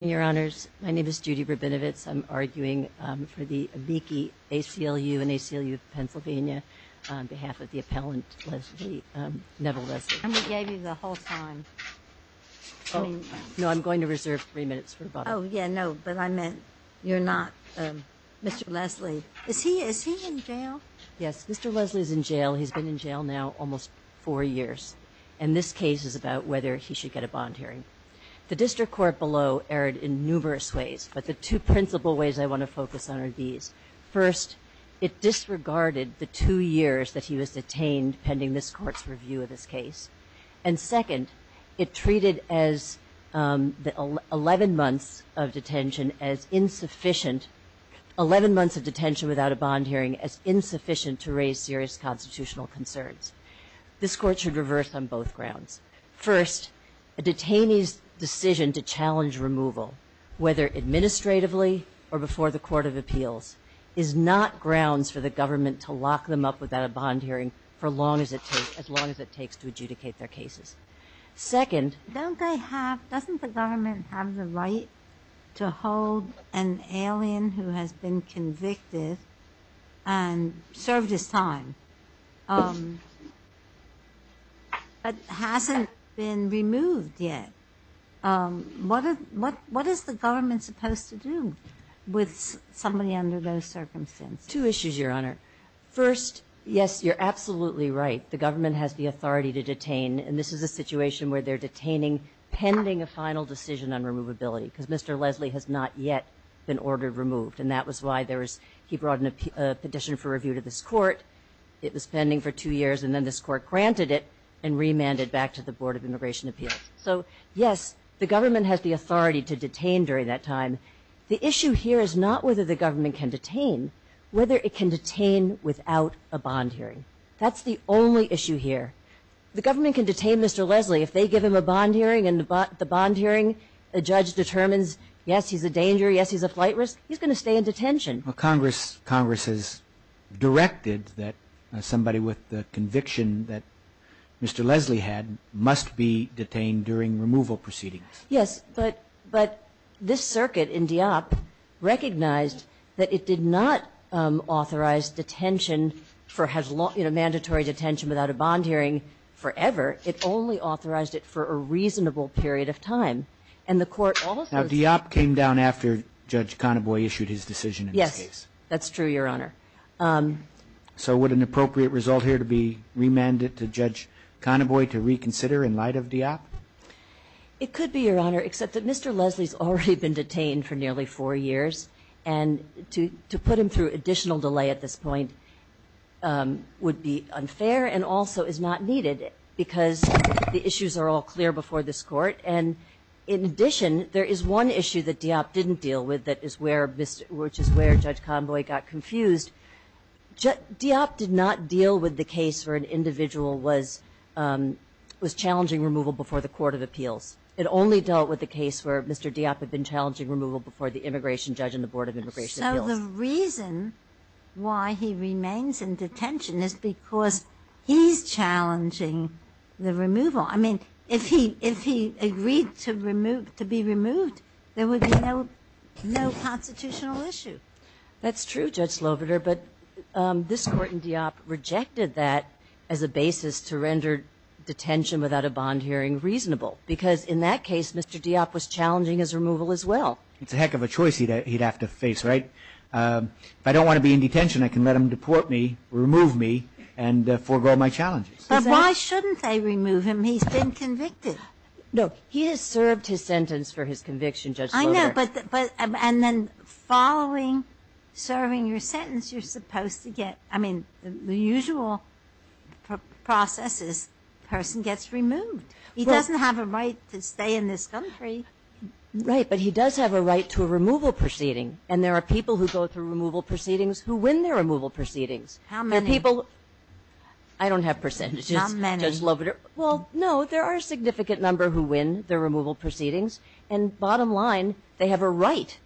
Your Honors, my name is Judy Rabinovitz. I'm arguing for the Amici ACLU and ACLU of Pennsylvania on behalf of the appellant Leslie, Neville Leslie. And we gave you the whole time. No, I'm going to reserve three minutes for rebuttal. Oh, yeah, no, but I meant you're not Mr. Leslie. Is he in jail? Yes, Mr. Leslie is in jail. He's been in jail now almost four years. And this case is about whether he should get a bond hearing. The district court below erred in numerous ways, but the two principal ways I want to focus on are these. First, it disregarded the two years that he was detained pending this court's review of this case. And second, it treated as the 11 months of detention as insufficient, 11 months of detention without a bond hearing as insufficient to raise serious constitutional concerns. This court should reverse on both grounds. First, a detainee's decision to challenge removal, whether administratively or before the court of appeals, is not grounds for the government to lock them up without a bond hearing for as long as it takes to adjudicate their cases. Second, doesn't the government have the right to hold an alien who has been convicted and served his time but hasn't been removed yet? What is the government supposed to do with somebody under those circumstances? Two issues, Your Honor. First, yes, you're absolutely right. The government has the authority to detain, and this is a situation where they're detaining pending a final decision on removability because Mr. Leslie has not yet been ordered removed. And that was why he brought a petition for review to this court. It was pending for two years, and then this court granted it and remanded back to the Board of Immigration Appeals. So, yes, the government has the authority to detain during that time. The issue here is not whether the government can detain, whether it can detain without a bond hearing. That's the only issue here. The government can detain Mr. Leslie. If they give him a bond hearing and the bond hearing, the judge determines, yes, he's a danger, yes, he's a flight risk, he's going to stay in detention. Well, Congress has directed that somebody with the conviction that Mr. Leslie had must be detained during removal proceedings. Yes, but this circuit in DEOP recognized that it did not authorize detention for, you know, mandatory detention without a bond hearing forever. It only authorized it for a reasonable period of time. And the court also said that. Now, DEOP came down after Judge Conaboy issued his decision in this case. Yes, that's true, Your Honor. So would an appropriate result here to be remanded to Judge Conaboy to reconsider in light of DEOP? It could be, Your Honor, except that Mr. Leslie's already been detained for nearly four years. And to put him through additional delay at this point would be unfair and also is not needed because the issues are all clear before this court. And in addition, there is one issue that DEOP didn't deal with that is where Mr. – which is where Judge Conaboy got confused. DEOP did not deal with the case where an individual was challenging removal before the court of appeals. It only dealt with the case where Mr. DEOP had been challenging removal before the immigration judge and the Board of Immigration Appeals. So the reason why he remains in detention is because he's challenging the removal. I mean, if he agreed to be removed, there would be no constitutional issue. That's true, Judge Sloboder, but this Court in DEOP rejected that as a basis to render detention without a bond hearing reasonable because in that case, Mr. DEOP was challenging his removal as well. It's a heck of a choice he'd have to face, right? If I don't want to be in detention, I can let him deport me, remove me, and forego my challenges. But why shouldn't they remove him? He's been convicted. I know, but – and then following serving your sentence, you're supposed to get – I mean, the usual process is person gets removed. He doesn't have a right to stay in this country. Right, but he does have a right to a removal proceeding, and there are people who go through removal proceedings who win their removal proceedings. How many? I don't have percentages. How many? Judge Sloboder – well, no, there are a significant number who win their removal proceedings, and bottom line, they have a right.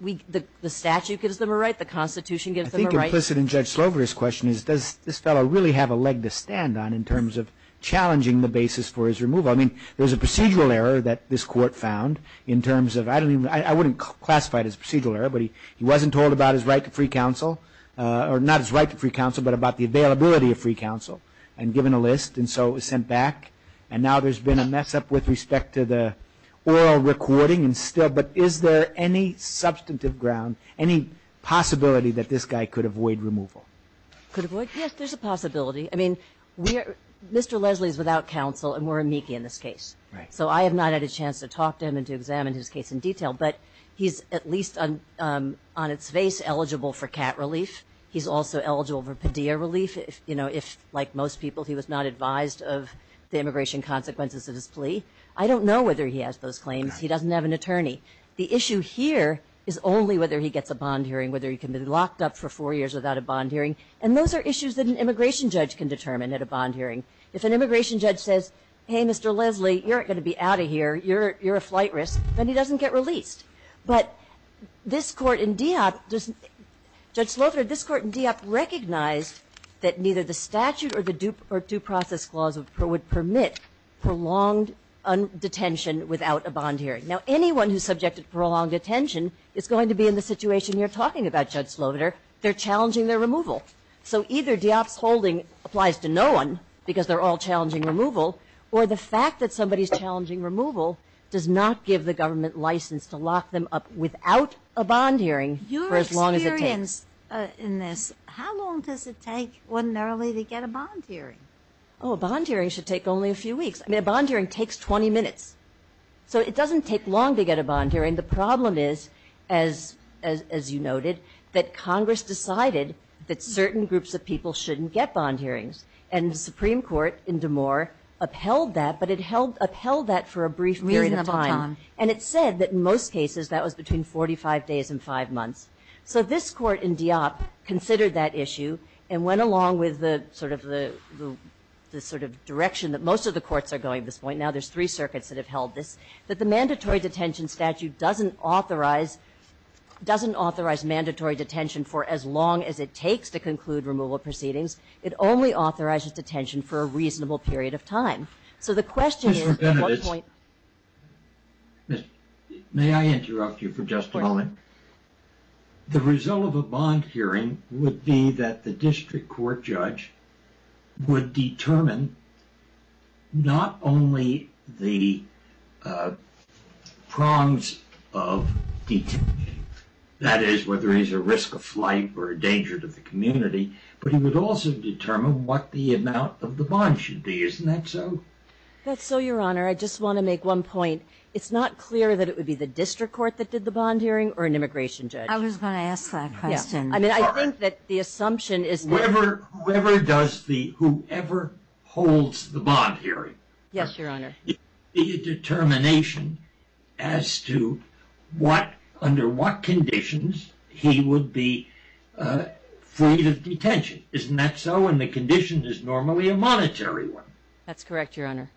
The statute gives them a right. The Constitution gives them a right. I think implicit in Judge Sloboder's question is does this fellow really have a leg to stand on in terms of challenging the basis for his removal? I mean, there's a procedural error that this Court found in terms of – I wouldn't classify it as a procedural error, but he wasn't told about his right to free counsel – or not his right to free counsel, but about the availability of free counsel, and given a list, and so it was sent back, and now there's been a mess-up with respect to the oral recording, and still – but is there any substantive ground, any possibility that this guy could avoid removal? Could avoid? Yes, there's a possibility. I mean, Mr. Leslie is without counsel, and we're amici in this case. So I have not had a chance to talk to him and to examine his case in detail, but he's at least on its face eligible for CAT relief. He's also eligible for Padilla relief if, like most people, he was not advised of the immigration consequences of his plea. I don't know whether he has those claims. He doesn't have an attorney. The issue here is only whether he gets a bond hearing, whether he can be locked up for four years without a bond hearing, and those are issues that an immigration judge can determine at a bond hearing. If an immigration judge says, hey, Mr. Leslie, you're not going to be out of here, you're a flight risk, then he doesn't get released. But this Court in DEOP – Judge Slaughter, this Court in DEOP recognized that neither the statute or the due process clause would permit prolonged detention without a bond hearing. Now, anyone who's subjected to prolonged detention is going to be in the situation you're talking about, Judge Slaughter. They're challenging their removal. So either DEOP's holding applies to no one because they're all challenging removal or the fact that somebody's challenging removal does not give the government license to lock them up without a bond hearing for as long as it takes. Your experience in this, how long does it take, when and early, to get a bond hearing? Oh, a bond hearing should take only a few weeks. I mean, a bond hearing takes 20 minutes. So it doesn't take long to get a bond hearing. The problem is, as you noted, that Congress decided that certain groups of people shouldn't get bond hearings. And the Supreme Court in DeMoor upheld that, but it upheld that for a brief period of time. Reasonable time. And it said that in most cases that was between 45 days and 5 months. So this Court in DEOP considered that issue and went along with the sort of direction that most of the courts are going at this point. Now there's three circuits that have held this. That the mandatory detention statute doesn't authorize mandatory detention for as long as it takes to conclude removal proceedings. It only authorizes detention for a reasonable period of time. Mr. Benedict, may I interrupt you for just a moment? Of course. The result of a bond hearing would be that the district court judge would determine not only the prongs of detention, that is, whether he's a risk of flight or a danger to the community, but he would also determine what the amount of the bond should be. Isn't that so? That's so, Your Honor. I just want to make one point. It's not clear that it would be the district court that did the bond hearing or an immigration judge. I was going to ask that question. Yes. I mean, I think that the assumption is that whoever does the, whoever holds the bond hearing. Yes, Your Honor. The determination as to what, under what conditions he would be free of detention. Isn't that so? And the condition is normally a monetary one. That's correct, Your Honor.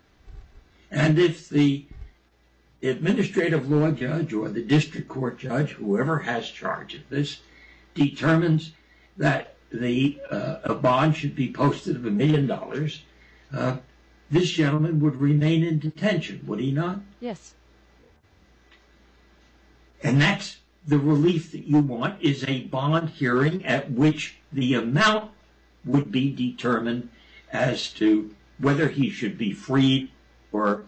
And if the administrative law judge or the district court judge, whoever has charge of this, determines that a bond should be posted of a million dollars, this gentleman would remain in detention, would he not? Yes. And that's the relief that you want is a bond hearing at which the amount would be determined as to whether he should be freed or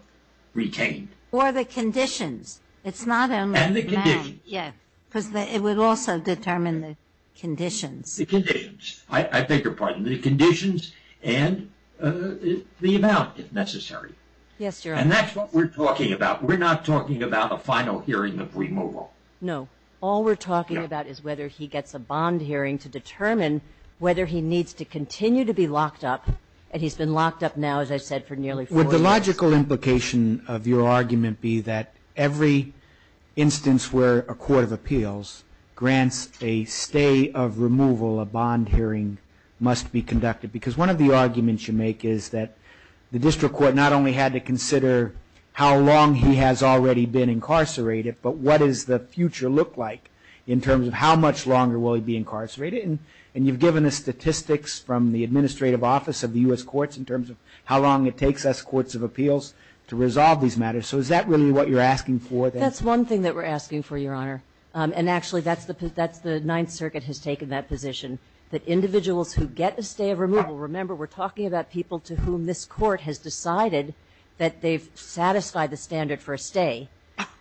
retained. Or the conditions. It's not only the amount. And the conditions. Yes. Because it would also determine the conditions. The conditions. I beg your pardon. The conditions and the amount, if necessary. Yes, Your Honor. And that's what we're talking about. We're not talking about a final hearing of removal. No. All we're talking about is whether he gets a bond hearing to determine whether he needs to continue to be locked up. And he's been locked up now, as I said, for nearly four years. Would the logical implication of your argument be that every instance where a court of appeals grants a stay of removal, a bond hearing must be conducted? Because one of the arguments you make is that the district court not only had to consider how long he has already been incarcerated, but what does the future look like in terms of how much longer will he be incarcerated? And you've given us statistics from the Administrative Office of the U.S. Courts in terms of how long it takes us courts of appeals to resolve these matters. So is that really what you're asking for? That's one thing that we're asking for, Your Honor. And actually, that's the Ninth Circuit has taken that position. That individuals who get a stay of removal, remember, we're talking about people to whom this court has decided that they've satisfied the standard for a stay.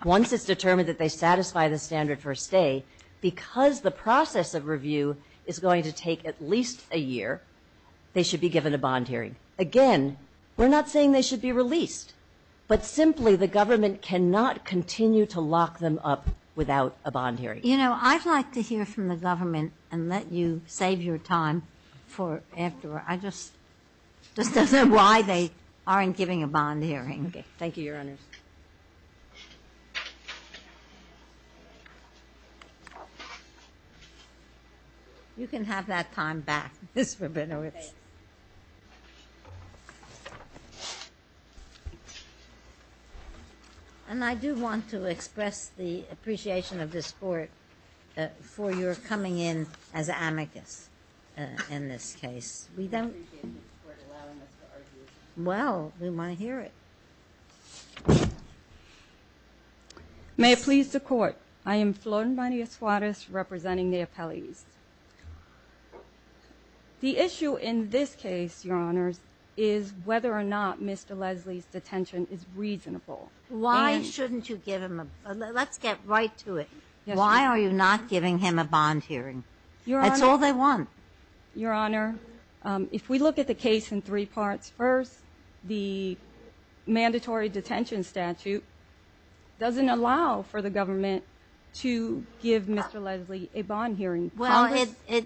Once it's determined that they satisfy the standard for a stay, because the process of review is going to take at least a year, they should be given a bond hearing. Again, we're not saying they should be released. But simply, the government cannot continue to lock them up without a bond hearing. You know, I'd like to hear from the government and let you save your time for afterward. I just don't know why they aren't giving a bond hearing. Okay. Thank you, Your Honors. You can have that time back, Ms. Rabinowitz. And I do want to express the appreciation of this court for your coming in as amicus in this case. We appreciate this court allowing us to argue. Well, we want to hear it. May it please the Court, I am Florin Bonilla Suarez representing the appellees. The issue in this case, Your Honors, is whether or not Mr. Leslie's detention is reasonable. Why shouldn't you give him a bond? Let's get right to it. Why are you not giving him a bond hearing? Your Honor. That's all they want. Your Honor, if we look at the case in three parts. First, the mandatory detention statute doesn't allow for the government to give Mr. Leslie a bond hearing. Well, it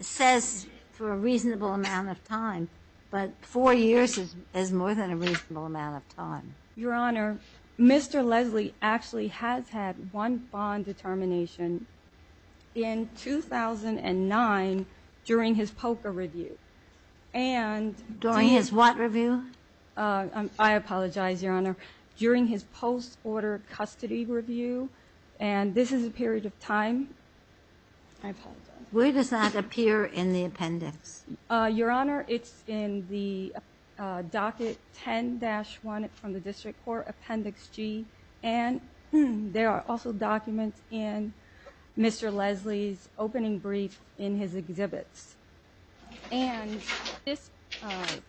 says for a reasonable amount of time, but four years is more than a reasonable amount of time. Your Honor, Mr. Leslie actually has had one bond determination. In 2009, during his POCA review, and during his what review? I apologize, Your Honor. During his post-order custody review, and this is a period of time. I apologize. Where does that appear in the appendix? Your Honor, it's in the docket 10-1 from the district court, appendix G. And there are also documents in Mr. Leslie's opening brief in his exhibits. And this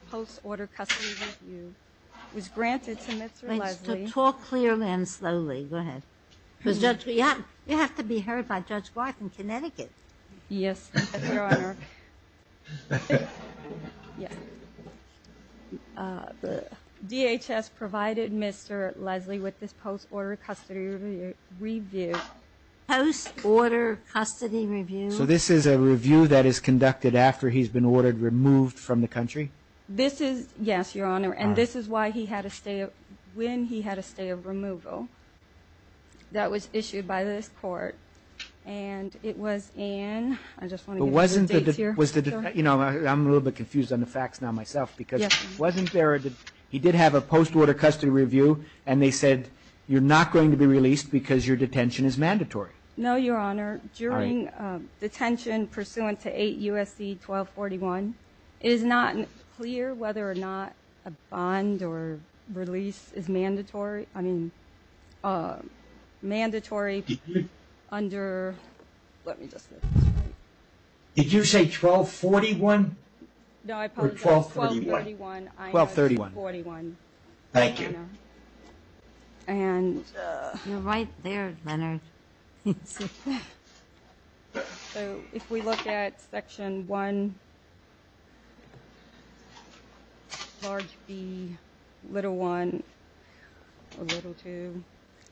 post-order custody review was granted to Mr. Leslie. Talk clearly and slowly. Go ahead. You have to be heard by Judge White in Connecticut. Yes, Your Honor. DHS provided Mr. Leslie with this post-order custody review. Post-order custody review? So this is a review that is conducted after he's been ordered removed from the country? This is, yes, Your Honor. And this is why he had a stay, when he had a stay of removal. That was issued by this court. And it was in, I just want to get the dates here. You know, I'm a little bit confused on the facts now myself. Because wasn't there a, he did have a post-order custody review, and they said you're not going to be released because your detention is mandatory. No, Your Honor. During detention pursuant to 8 U.S.C. 1241, it is not clear whether or not a bond or release is mandatory. I mean, mandatory under, let me just make this right. Did you say 1241? No, I apologize. Or 1231? 1231. 1231. Thank you. And. You're right there, Leonard. So if we look at Section 1, large B, little 1, or little 2,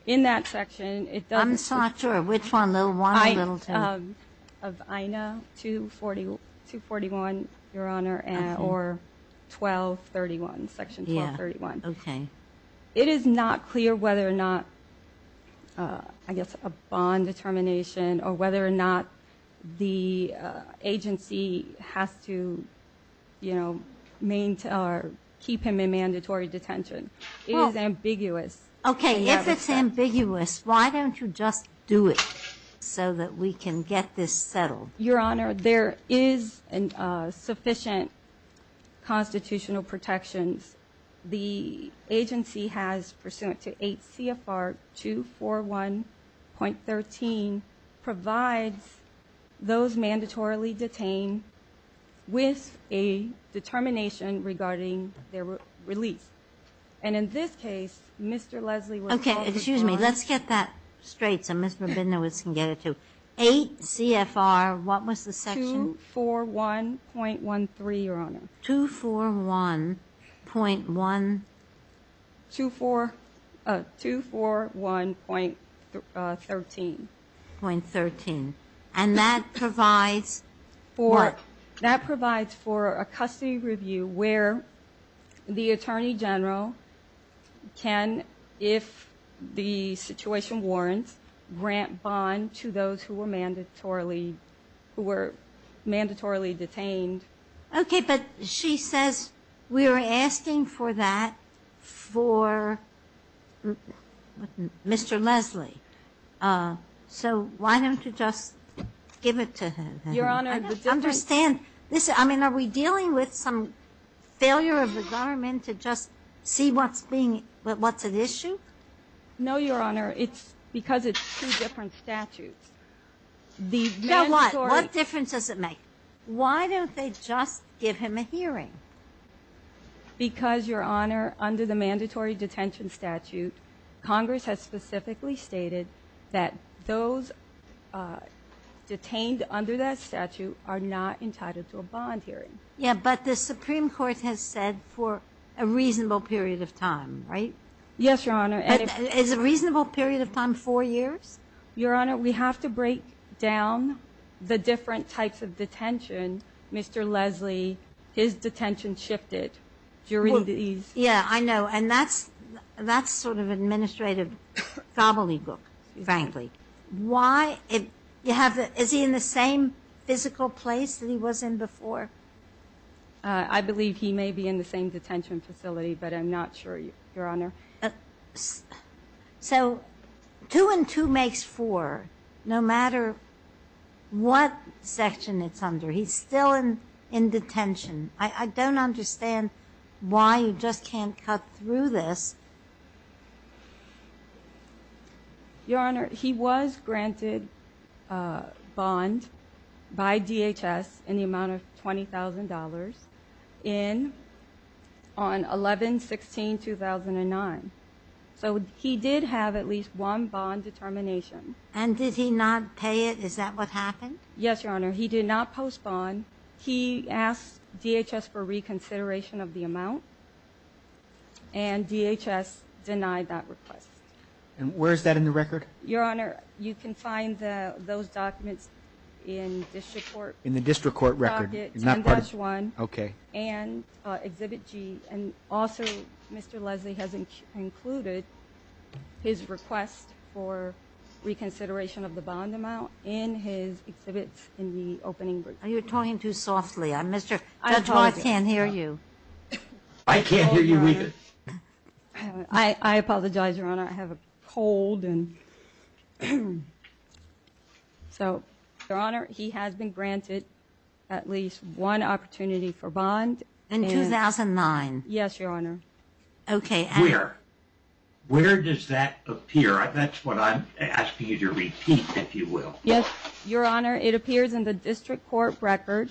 in that section. I'm not sure which one, little 1 or little 2. Of INA 241, Your Honor, or 1231, Section 1231. Yeah, okay. It is not clear whether or not, I guess, a bond determination, or whether or not the agency has to, you know, maintain or keep him in mandatory detention. It is ambiguous. Okay, if it's ambiguous, why don't you just do it so that we can get this settled? Your Honor, there is sufficient constitutional protections. The agency has pursuant to 8 CFR 241.13, provides those mandatorily detained with a determination regarding their release. And in this case, Mr. Leslie was called to charge. Okay, excuse me. Let's get that straight so Ms. Rabinowitz can get it to. 8 CFR, what was the section? 241.13, Your Honor. 241.1. 241.13. .13. And that provides for? That provides for a custody review where the Attorney General can, if the situation warrants, grant bond to those who were mandatorily detained. Okay, but she says we are asking for that for Mr. Leslie. So why don't you just give it to him? Your Honor, the difference. I don't understand. I mean, are we dealing with some failure of the government to just see what's being, what's at issue? No, Your Honor. It's because it's two different statutes. The mandatory. So what? What difference does it make? Why don't they just give him a hearing? Because, Your Honor, under the mandatory detention statute, Congress has specifically stated that those detained under that statute are not entitled to a bond hearing. Yeah, but the Supreme Court has said for a reasonable period of time, right? Yes, Your Honor. Is a reasonable period of time four years? Your Honor, we have to break down the different types of detention. Mr. Leslie, his detention shifted during these. Yeah, I know. And that's sort of administrative gobbledygook, frankly. Why? Is he in the same physical place that he was in before? I believe he may be in the same detention facility, but I'm not sure, Your Honor. So two and two makes four, no matter what section it's under. He's still in detention. I don't understand why you just can't cut through this. Your Honor, he was granted a bond by DHS in the amount of $20,000 on 11-16-2009. So he did have at least one bond determination. And did he not pay it? Is that what happened? Yes, Your Honor. He did not post bond. He asked DHS for reconsideration of the amount, and DHS denied that request. And where is that in the record? Your Honor, you can find those documents in district court. Okay. And also, Mr. Leslie has included his request for reconsideration of the bond amount in his exhibits in the opening. Are you talking too softly? I can't hear you. I can't hear you either. I apologize, Your Honor. I have a cold. So, Your Honor, he has been granted at least one opportunity for bond. In 2009? Yes, Your Honor. Okay. Where? Where does that appear? That's what I'm asking you to repeat, if you will. Yes, Your Honor, it appears in the district court record,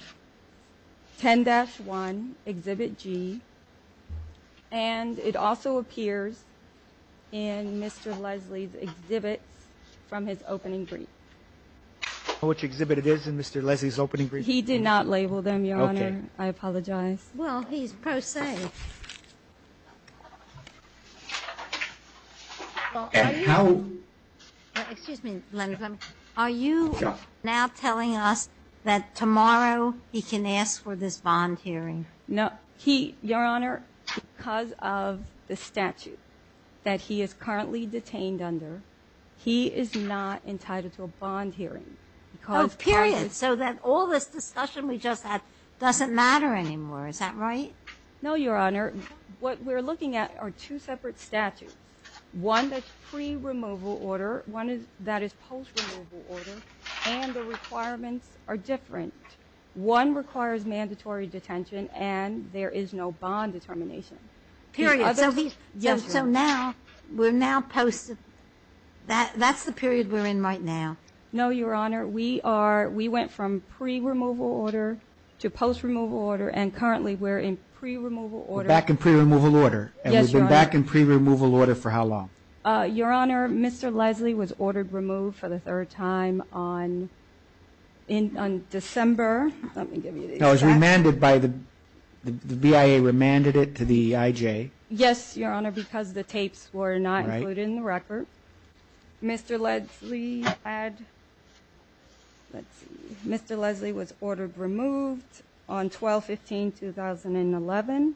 10-1, exhibit G. And it also appears in Mr. Leslie's exhibits from his opening brief. Which exhibit it is in Mr. Leslie's opening brief? He did not label them, Your Honor. Okay. I apologize. Well, he's pro se. Are you now telling us that tomorrow he can ask for this bond hearing? No. He, Your Honor, because of the statute that he is currently detained under, he is not entitled to a bond hearing. Oh, period. So then all this discussion we just had doesn't matter anymore. Is that right? No, Your Honor. What we're looking at are two separate statutes, one that's pre-removal order, one that is post-removal order, and the requirements are different. One requires mandatory detention, and there is no bond determination. Period. So now we're now post-removal. That's the period we're in right now. No, Your Honor. We went from pre-removal order to post-removal order, and currently we're in pre-removal order. We're back in pre-removal order. Yes, Your Honor. And we've been back in pre-removal order for how long? Your Honor, Mr. Leslie was ordered removed for the third time on December. Let me give you the exact date. No, it was remanded by the BIA, remanded it to the EIJ. Yes, Your Honor, because the tapes were not included in the record. Mr. Leslie had, let's see, Mr. Leslie was ordered removed on 12-15-2011.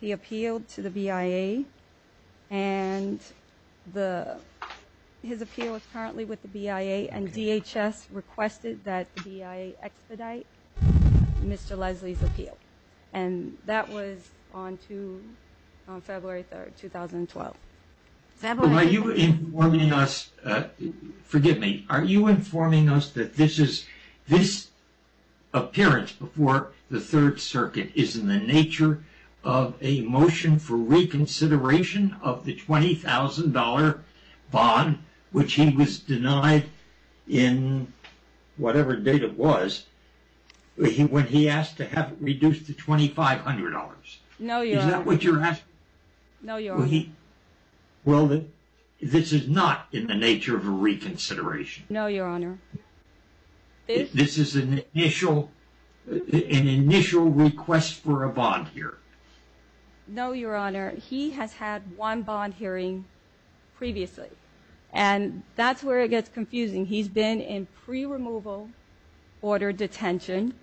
He appealed to the BIA, and his appeal is currently with the BIA, and DHS requested that the BIA expedite Mr. Leslie's appeal, and that was on February 3, 2012. Are you informing us, forgive me, are you informing us that this appearance before the Third Circuit is in the nature of a motion for reconsideration of the $20,000 bond, which he was denied in whatever date it was, when he asked to have it reduced to $2,500? No, Your Honor. Is that what you're asking? No, Your Honor. Well, this is not in the nature of a reconsideration. No, Your Honor. This is an initial request for a bond here. No, Your Honor. He has had one bond hearing previously, and that's where it gets confusing. He's been in pre-removal order detention,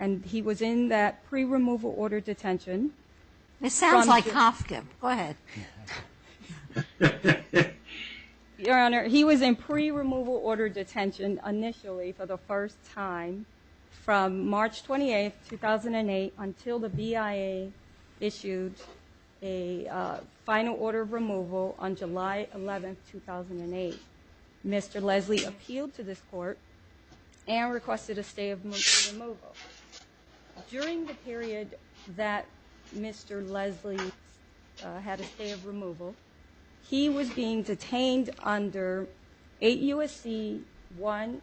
and he was in that pre-removal order detention. It sounds like Kafka. Go ahead. Your Honor, he was in pre-removal order detention initially for the first time from March 28, 2008 until the BIA issued a final order of removal on July 11, 2008. Mr. Leslie appealed to this court and requested a stay of motion removal. During the period that Mr. Leslie had a stay of removal, he was being detained under 8 U.S.C. 1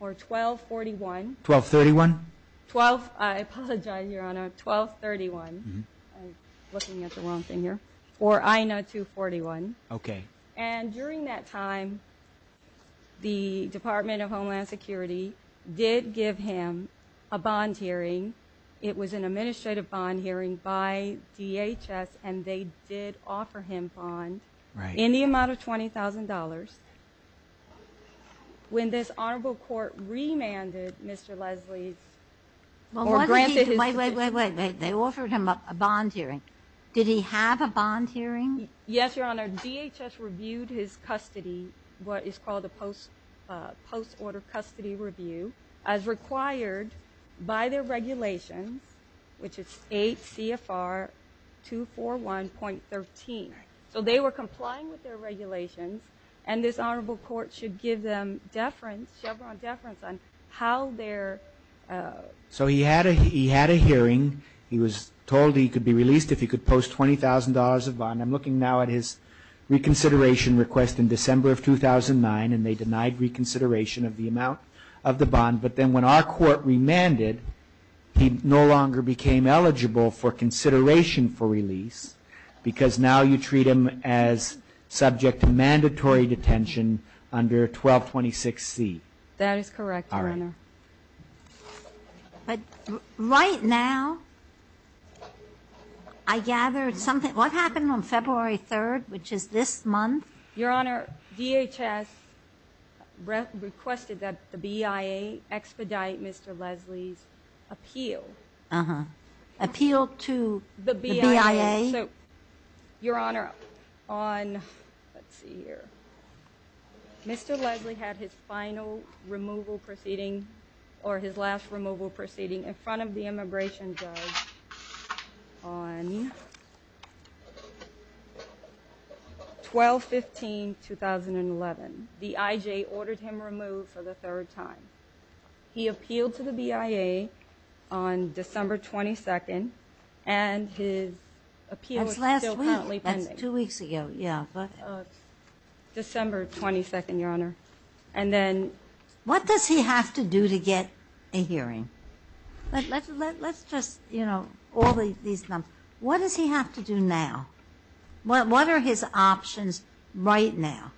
or 1241. 1231? I apologize, Your Honor. 1231. I'm looking at the wrong thing here. Or INA 241. Okay. And during that time, the Department of Homeland Security did give him a bond hearing. It was an administrative bond hearing by DHS, and they did offer him bond. Right. In the amount of $20,000. When this honorable court remanded Mr. Leslie's or granted his ---- Wait, wait, wait. They offered him a bond hearing. Did he have a bond hearing? Yes, Your Honor. DHS reviewed his custody, what is called a post-order custody review, as required by their regulations, which is 8 CFR 241.13. So they were complying with their regulations, and this honorable court should give them deference, Chevron deference, on how their ---- So he had a hearing. He was told he could be released if he could post $20,000 of bond. I'm looking now at his reconsideration request in December of 2009, and they denied reconsideration of the amount of the bond. But then when our court remanded, he no longer became eligible for consideration for release, because now you treat him as subject to mandatory detention under 1226C. That is correct, Your Honor. All right. But right now, I gathered something. What happened on February 3rd, which is this month? Your Honor, DHS requested that the BIA expedite Mr. Leslie's appeal. Appeal to the BIA? Your Honor, on ---- let's see here. Mr. Leslie had his final removal proceeding or his last removal proceeding in front of the immigration judge on 12-15-2011. The IJ ordered him removed for the third time. He appealed to the BIA on December 22nd, and his appeal is still currently pending. That's last week. That's two weeks ago. December 22nd, Your Honor. And then ---- What does he have to do to get a hearing? Let's just, you know, all these numbers. What does he have to do now? What are his options right now?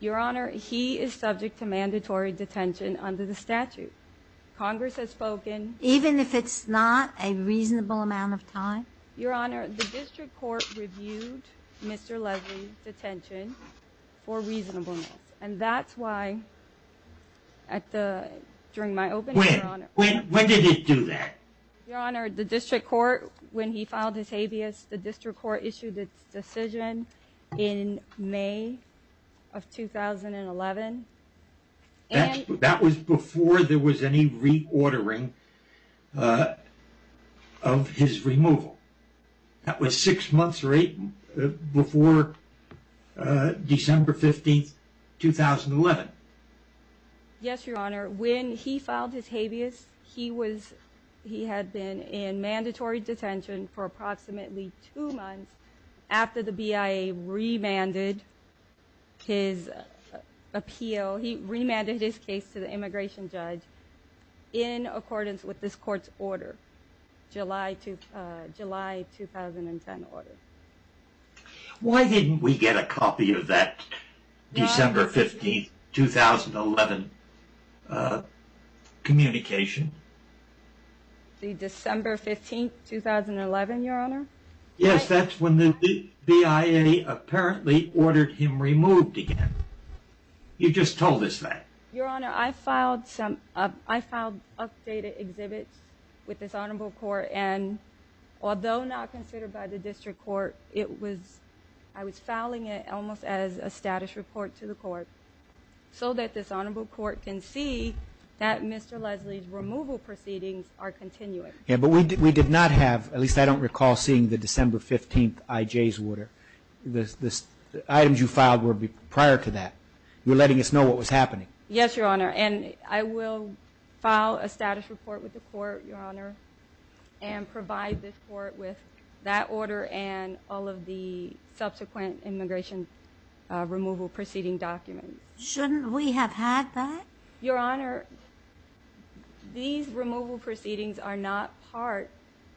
Your Honor, he is subject to mandatory detention under the statute. Congress has spoken. Even if it's not a reasonable amount of time? Your Honor, the district court reviewed Mr. Leslie's detention for reasonable amounts, and that's why at the ---- during my opening, Your Honor. When? When did it do that? Your Honor, the district court, when he filed his habeas, the district court issued its decision in May of 2011. That was before there was any reordering of his removal. That was six months or eight before December 15th, 2011. Yes, Your Honor. When he filed his habeas, he was ---- he had been in mandatory detention for approximately two months after the BIA remanded his appeal. He remanded his case to the immigration judge in accordance with this court's order, July 2010 order. Why didn't we get a copy of that December 15th, 2011 communication? The December 15th, 2011, Your Honor? Yes, that's when the BIA apparently ordered him removed again. You just told us that. Your Honor, I filed some updated exhibits with this honorable court, and although not considered by the district court, it was ---- I was filing it almost as a status report to the court so that this honorable court can see that Mr. Leslie's removal proceedings are continuing. Yes, but we did not have, at least I don't recall seeing the December 15th IJ's order. The items you filed were prior to that. You're letting us know what was happening. Yes, Your Honor, and I will file a status report with the court, Your Honor, and provide this court with that order and all of the subsequent immigration removal proceeding documents. Shouldn't we have had that? Your Honor, these removal proceedings are not part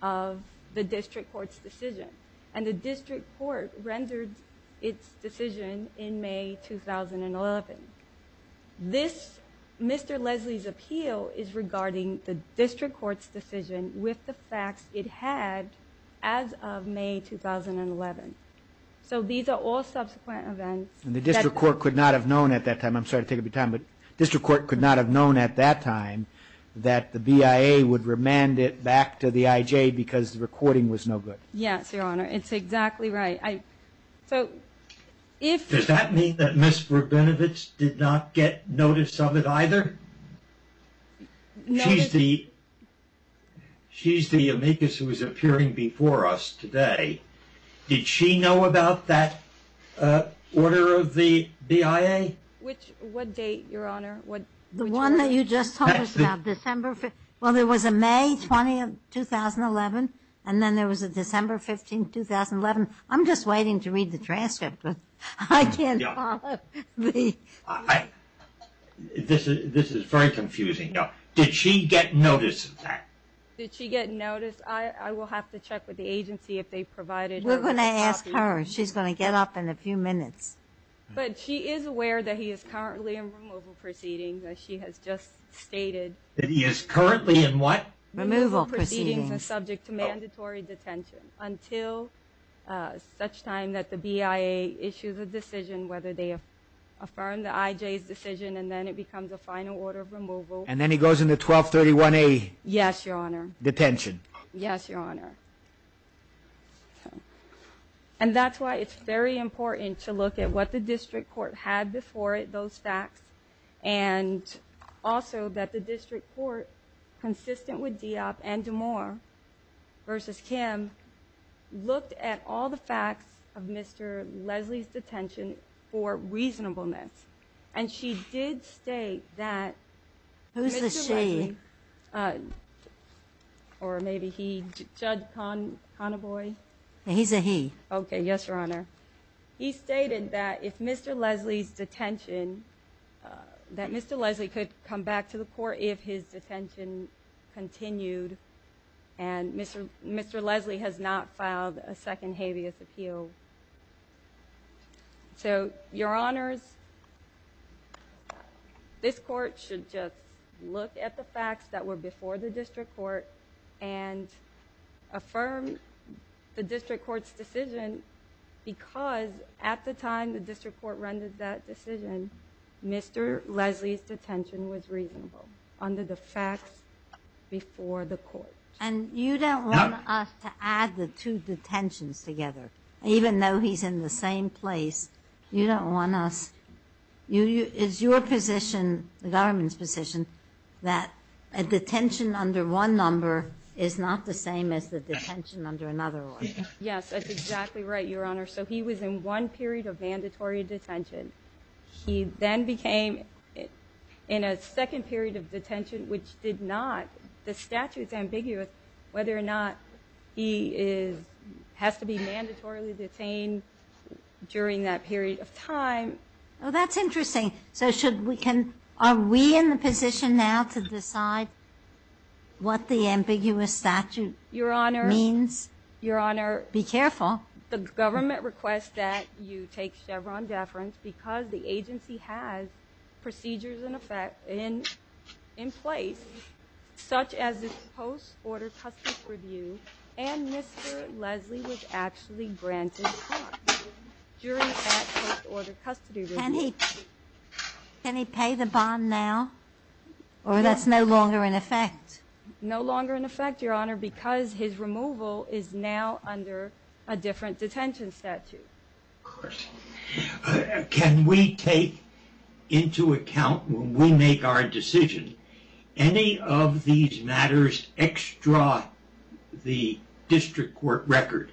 of the district court's decision, and the district court rendered its decision in May 2011. This Mr. Leslie's appeal is regarding the district court's decision with the facts it had as of May 2011. So these are all subsequent events. And the district court could not have known at that time. I'm sorry to take up your time, but district court could not have known at that time that the BIA would remand it back to the IJ because the recording was no good. Yes, Your Honor, it's exactly right. Does that mean that Ms. Rabinowitz did not get notice of it either? She's the amicus who is appearing before us today. Did she know about that order of the BIA? What date, Your Honor? The one that you just told us about, December? Well, there was a May 20, 2011, and then there was a December 15, 2011. I'm just waiting to read the transcript, but I can't follow. This is very confusing. Did she get notice of that? Did she get notice? I will have to check with the agency if they provided her with a copy. We're going to ask her. She's going to get up in a few minutes. But she is aware that he is currently in removal proceedings, as she has just stated. That he is currently in what? Removal proceedings and subject to mandatory detention until such time that the BIA issues a decision whether they affirm the IJ's decision, and then it becomes a final order of removal. And then he goes into 1231A? Yes, Your Honor. Detention. Yes, Your Honor. And that's why it's very important to look at what the district court had before it, those facts, and also that the district court, consistent with Diop and DeMoor versus Kim, looked at all the facts of Mr. Leslie's detention for reasonableness. And she did state that Mr. Leslie or maybe he, Judge Connaboy. He's a he. Okay, yes, Your Honor. He stated that if Mr. Leslie's detention, that Mr. Leslie could come back to the court if his detention continued and Mr. Leslie has not filed a second habeas appeal. So, Your Honors, this court should just look at the facts that were before the district court and affirm the district court's decision because at the time the district court rendered that decision, Mr. Leslie's detention was reasonable under the facts before the court. And you don't want us to add the two detentions together, even though he's in the same place. You don't want us. Is your position, the government's position, that a detention under one number is not the same as the detention under another one? Yes, that's exactly right, Your Honor. So he was in one period of mandatory detention. He then became in a second period of detention, which did not. The statute's ambiguous whether or not he has to be mandatorily detained during that period of time. Oh, that's interesting. So are we in the position now to decide what the ambiguous statute means? Your Honor, Your Honor. Be careful. The government requests that you take Chevron deference because the agency has procedures in effect in place, such as this post-order custody review, and Mr. Leslie was actually granted custody during that post-order custody review. Can he pay the bond now, or that's no longer in effect? No longer in effect, Your Honor, because his removal is now under a different detention statute. Of course. Can we take into account when we make our decision, any of these matters extra the district court record,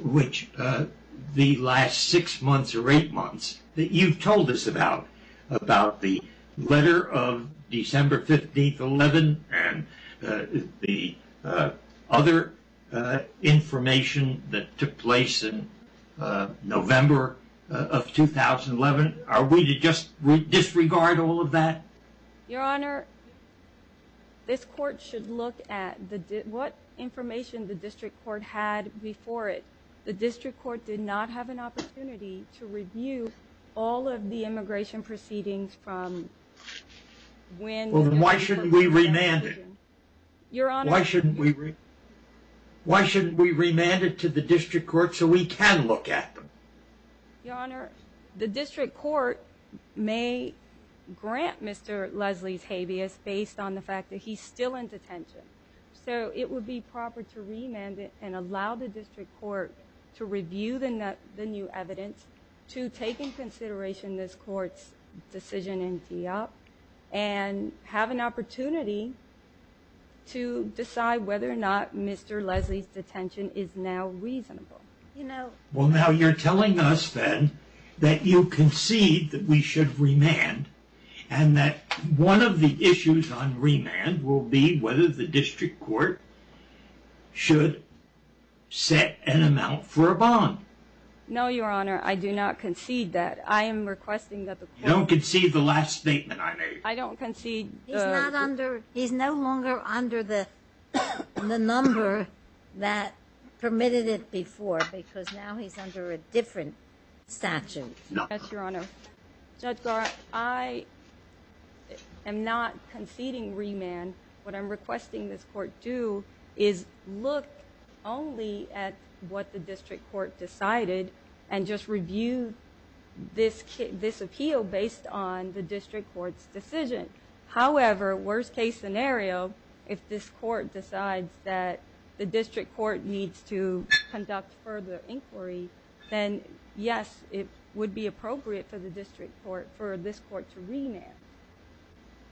which the last six months or eight months that you've told us about, the letter of December 15th, 11, and the other information that took place in November of 2011? Are we to just disregard all of that? Your Honor, this court should look at what information the district court had before it. The district court did not have an opportunity to review all of the immigration proceedings from when… Why shouldn't we remand it? Your Honor… Why shouldn't we remand it to the district court so we can look at them? Your Honor, the district court may grant Mr. Leslie's habeas based on the fact that he's still in detention. So it would be proper to remand it and allow the district court to review the new evidence, to take into consideration this court's decision in DEOP, and have an opportunity to decide whether or not Mr. Leslie's detention is now reasonable. You know… Well, now you're telling us, then, that you concede that we should remand, and that one of the issues on remand will be whether the district court should set an amount for a bond. No, Your Honor, I do not concede that. I am requesting that the court… You don't concede the last statement I made. I don't concede… He's not under… He's no longer under the number that permitted it before because now he's under a different statute. No. Yes, Your Honor. Judge Goroff, I am not conceding remand. What I'm requesting this court do is look only at what the district court decided and just review this appeal based on the district court's decision. However, worst-case scenario, if this court decides that the district court needs to conduct further inquiry, then, yes, it would be appropriate for the district court, for this court to remand.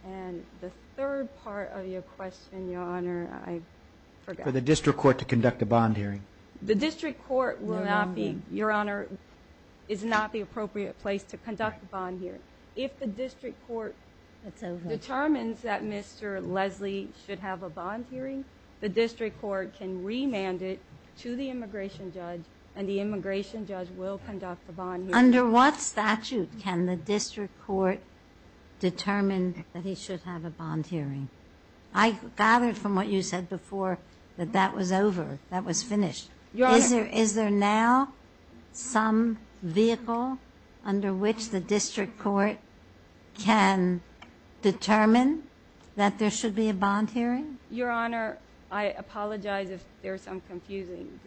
And the third part of your question, Your Honor, I forgot. For the district court to conduct a bond hearing. The district court will not be, Your Honor, is not the appropriate place to conduct a bond hearing. If the district court determines that Mr. Leslie should have a bond hearing, the district court can remand it to the immigration judge and the immigration judge will conduct a bond hearing. Under what statute can the district court determine that he should have a bond hearing? I gathered from what you said before that that was over, that was finished. Your Honor. Is there now some vehicle under which the district court can determine that there should be a bond hearing? Your Honor, I apologize if there's some confusion.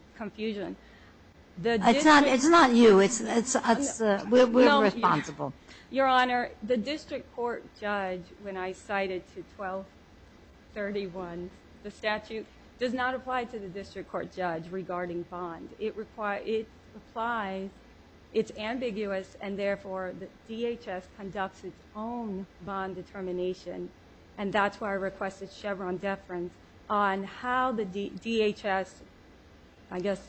It's not you. We're responsible. Your Honor, the district court judge, when I cited to 1231, the statute does not apply to the district court judge regarding bond. It applies, it's ambiguous, and therefore the DHS conducts its own bond determination. And that's why I requested Chevron deference on how the DHS, I guess,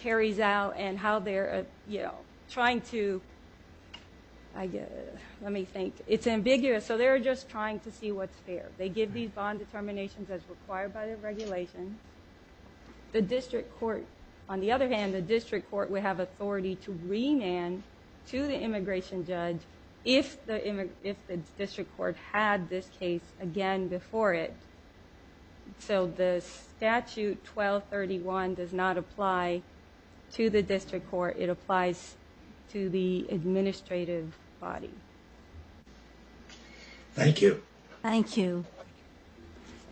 carries out and how they're trying to, let me think. It's ambiguous. So they're just trying to see what's fair. They give these bond determinations as required by the regulations. The district court, on the other hand, would have authority to remand to the immigration judge if the district court had this case again before it. So the statute 1231 does not apply to the district court. It applies to the administrative body. Thank you. Thank you.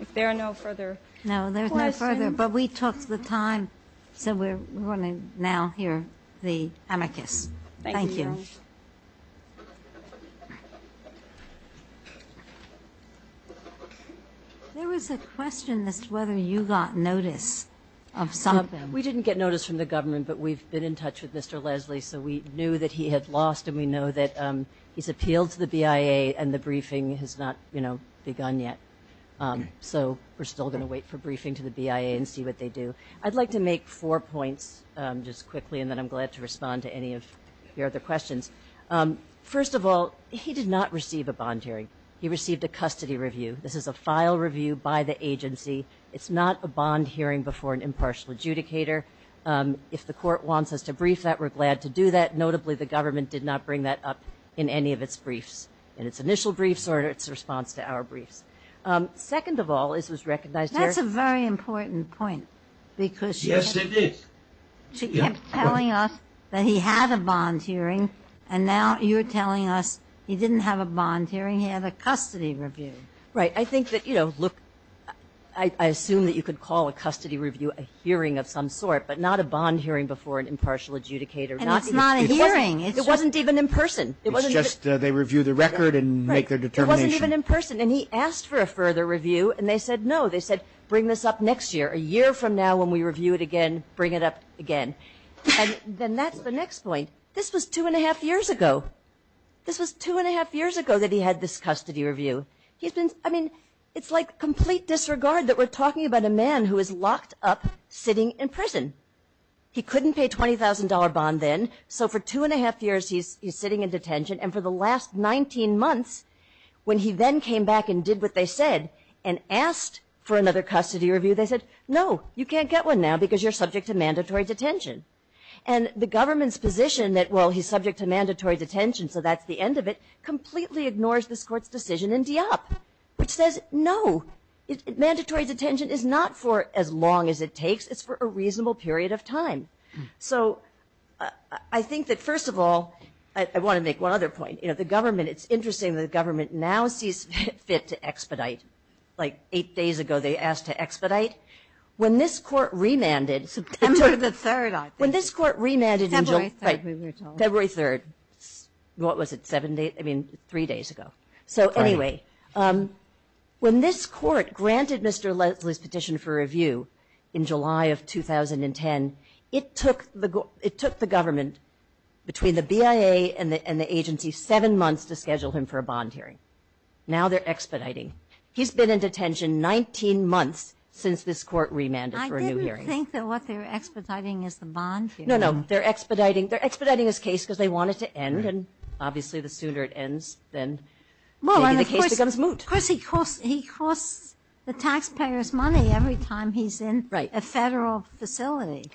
If there are no further questions. But we took the time, so we're going to now hear the amicus. Thank you. There was a question as to whether you got notice of some of them. We didn't get notice from the government, but we've been in touch with Mr. Leslie, so we knew that he had lost and we know that he's appealed to the BIA and the briefing has not begun yet. So we're still going to wait for briefing to the BIA and see what they do. I'd like to make four points just quickly, and then I'm glad to respond to any of your other questions. First of all, he did not receive a bond hearing. He received a custody review. This is a file review by the agency. It's not a bond hearing before an impartial adjudicator. If the court wants us to brief that, we're glad to do that. Notably, the government did not bring that up in any of its briefs, in its initial briefs or in its response to our briefs. Second of all, this was recognized here. That's a very important point because she kept telling us that he had a bond hearing, and now you're telling us he didn't have a bond hearing, he had a custody review. Right. I think that, you know, look, I assume that you could call a custody review a hearing of some sort, but not a bond hearing before an impartial adjudicator. And it's not a hearing. It wasn't even in person. It's just they review the record and make their determination. It wasn't even in person, and he asked for a further review, and they said no. They said bring this up next year. A year from now when we review it again, bring it up again. And then that's the next point. This was two and a half years ago. This was two and a half years ago that he had this custody review. I mean, it's like complete disregard that we're talking about a man who is locked up sitting in prison. He couldn't pay a $20,000 bond then, so for two and a half years he's sitting in detention. And for the last 19 months, when he then came back and did what they said and asked for another custody review, they said, no, you can't get one now because you're subject to mandatory detention. And the government's position that, well, he's subject to mandatory detention, so that's the end of it, completely ignores this Court's decision in DIOP, which says, no, mandatory detention is not for as long as it takes. It's for a reasonable period of time. So I think that, first of all, I want to make one other point. You know, the government, it's interesting that the government now sees fit to expedite. Like eight days ago they asked to expedite. When this Court remanded. September the 3rd, I think. When this Court remanded. February 3rd, we were told. February 3rd. What was it, seven days? I mean, three days ago. So anyway, when this Court granted Mr. Leslie's petition for review in July of 2010, it took the government, between the BIA and the agency, seven months to schedule him for a bond hearing. Now they're expediting. He's been in detention 19 months since this Court remanded for a new hearing. I didn't think that what they were expediting is the bond hearing. No, no, they're expediting his case because they want it to end, and obviously the sooner it ends, then maybe the case becomes moot. Well, and of course he costs the taxpayers money every time he's in a federal facility.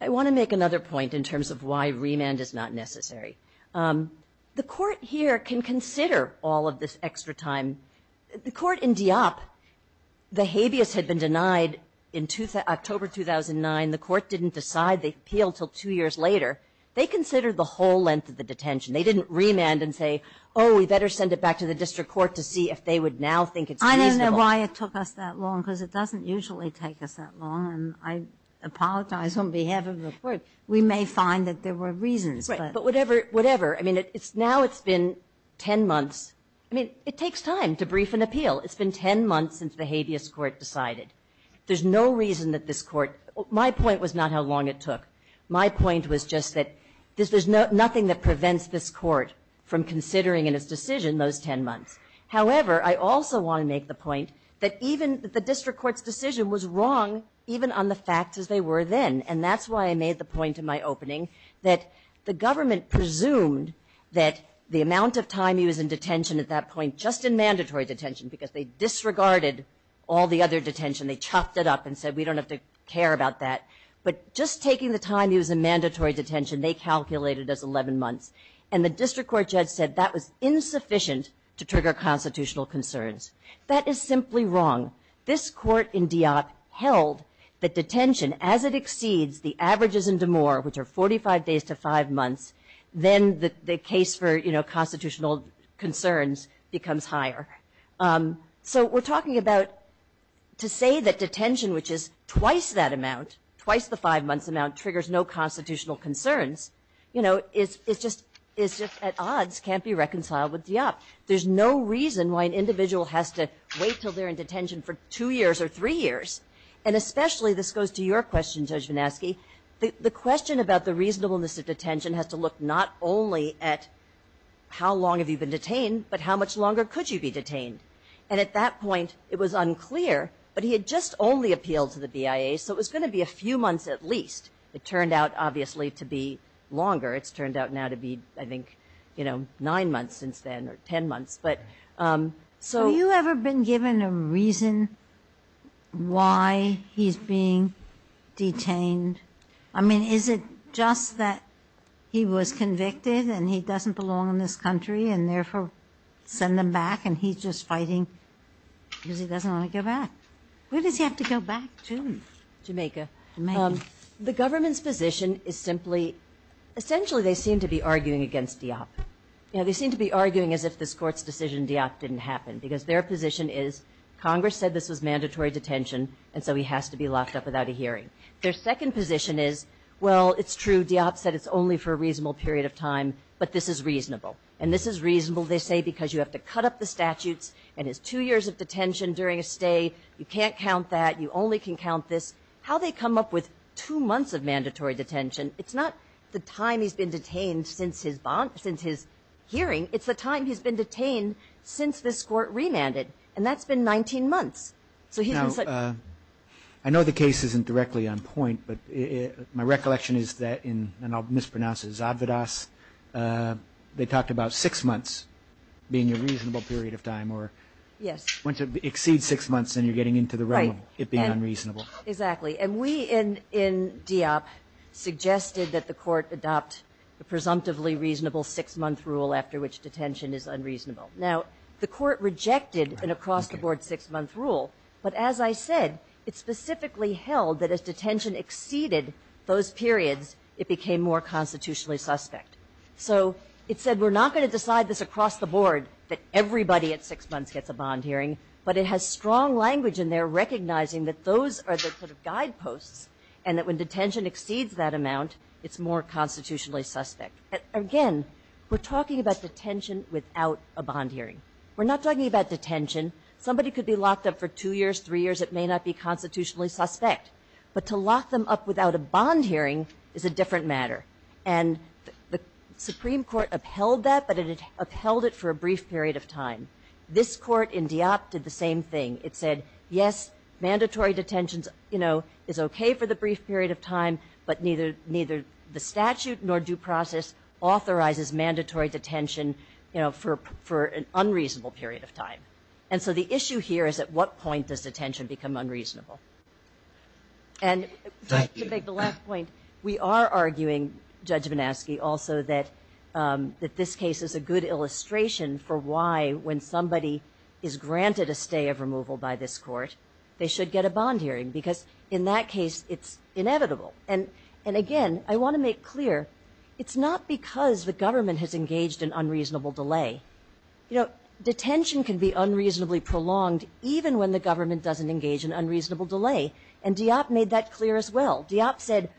I want to make another point in terms of why remand is not necessary. The Court here can consider all of this extra time. The Court in Dieppe, the habeas had been denied in October 2009. The Court didn't decide the appeal until two years later. They considered the whole length of the detention. They didn't remand and say, oh, we better send it back to the district court to see if they would now think it's reasonable. I don't know why it took us that long, because it doesn't usually take us that long, and I apologize on behalf of the Court. We may find that there were reasons, but. Right. But whatever, whatever. I mean, now it's been 10 months. I mean, it takes time to brief an appeal. It's been 10 months since the habeas Court decided. There's no reason that this Court my point was not how long it took. My point was just that there's nothing that prevents this Court from considering in its decision those 10 months. However, I also want to make the point that even the district court's decision was wrong, even on the facts as they were then, and that's why I made the point in my opening that the government presumed that the amount of time he was in detention at that point, just in mandatory detention, because they disregarded all the other detention. They chopped it up and said, we don't have to care about that. But just taking the time he was in mandatory detention, they calculated as 11 months, and the district court judge said that was insufficient to trigger constitutional concerns. That is simply wrong. This Court in DIOP held that detention, as it exceeds the averages in DeMoor, which are 45 days to 5 months, then the case for, you know, constitutional concerns becomes higher. So we're talking about to say that detention, which is twice that amount, twice the 5-months amount, triggers no constitutional concerns, you know, is just at odds, can't be reconciled with DIOP. There's no reason why an individual has to wait until they're in detention for 2 years or 3 years. And especially, this goes to your question, Judge VanAschke, the question about the reasonableness of detention has to look not only at how long have you been detained, but how much longer could you be detained. And at that point, it was unclear, but he had just only appealed to the BIA, so it was going to be a few months at least. It turned out, obviously, to be longer. It's turned out now to be, I think, you know, 9 months since then, or 10 months. But so... Have you ever been given a reason why he's being detained? I mean, is it just that he was convicted and he doesn't belong in this country and therefore send them back and he's just fighting because he doesn't want to go back? Where does he have to go back to? Jamaica. The government's position is simply, essentially, they seem to be arguing against DIOP. You know, they seem to be arguing as if this Court's decision, DIOP, didn't happen, because their position is Congress said this was mandatory detention, and so he has to be locked up without a hearing. Their second position is, well, it's true, DIOP said it's only for a reasonable period of time, but this is reasonable. And this is reasonable, they say, because you have to cut up the statutes and it's two years of detention during a stay. You can't count that. You only can count this. How they come up with two months of mandatory detention, it's not the time he's been detained since his hearing. It's the time he's been detained since this Court remanded, and that's been 19 months. Now, I know the case isn't directly on point, but my recollection is that in, and I'll mispronounce it, Zadvodas, they talked about six months being a reasonable period of time. Yes. Once it exceeds six months, then you're getting into the realm of it being unreasonable. Right. Exactly. And we in DIOP suggested that the Court adopt a presumptively reasonable six-month rule after which detention is unreasonable. Now, the Court rejected an across-the-board six-month rule, but as I said, it specifically held that as detention exceeded those periods, it became more constitutionally suspect. So it said we're not going to decide this across the board, that everybody at six months gets a bond hearing, but it has strong language in there recognizing that those are the sort of guideposts and that when detention exceeds that amount, it's more constitutionally suspect. Again, we're talking about detention without a bond hearing. We're not talking about detention. Somebody could be locked up for two years, three years. It may not be constitutionally suspect. But to lock them up without a bond hearing is a different matter. And the Supreme Court upheld that, but it upheld it for a brief period of time. This Court in DIOP did the same thing. It said, yes, mandatory detention is okay for the brief period of time, but neither the statute nor due process authorizes mandatory detention for an unreasonable period of time. And so the issue here is at what point does detention become unreasonable? And to make the last point, we are arguing, Judge Bonaski, also that this case is a good illustration for why, when somebody is granted a stay of removal by this Court, they should get a bond hearing because in that case it's inevitable. And, again, I want to make clear, it's not because the government has engaged in unreasonable delay. You know, detention can be unreasonably prolonged even when the government doesn't engage in unreasonable delay. And DIOP made that clear as well. DIOP said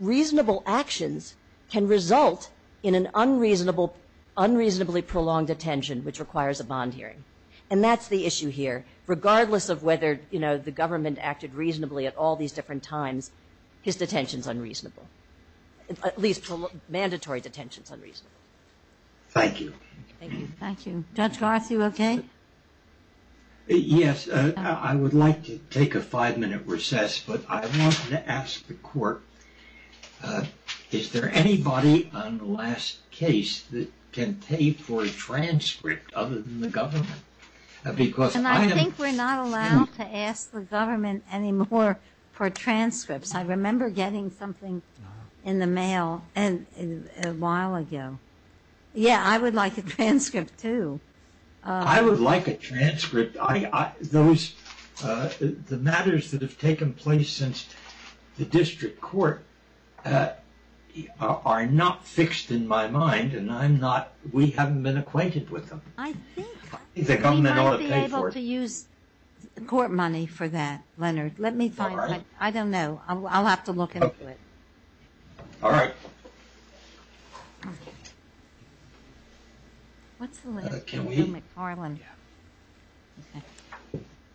reasonable actions can result in an unreasonably prolonged detention which requires a bond hearing. And that's the issue here. Regardless of whether, you know, the government acted reasonably at all these different times, his detention is unreasonable, at least mandatory detention is unreasonable. Thank you. Thank you. Judge Garth, you okay? Yes. I would like to take a five-minute recess, but I wanted to ask the Court, is there anybody on the last case that can pay for a transcript other than the government? And I think we're not allowed to ask the government anymore for transcripts. I remember getting something in the mail a while ago. Yeah, I would like a transcript too. I would like a transcript. The matters that have taken place since the district court are not fixed in my mind, and we haven't been acquainted with them. I think we might be able to use court money for that, Leonard. I don't know. I'll have to look into it. All right.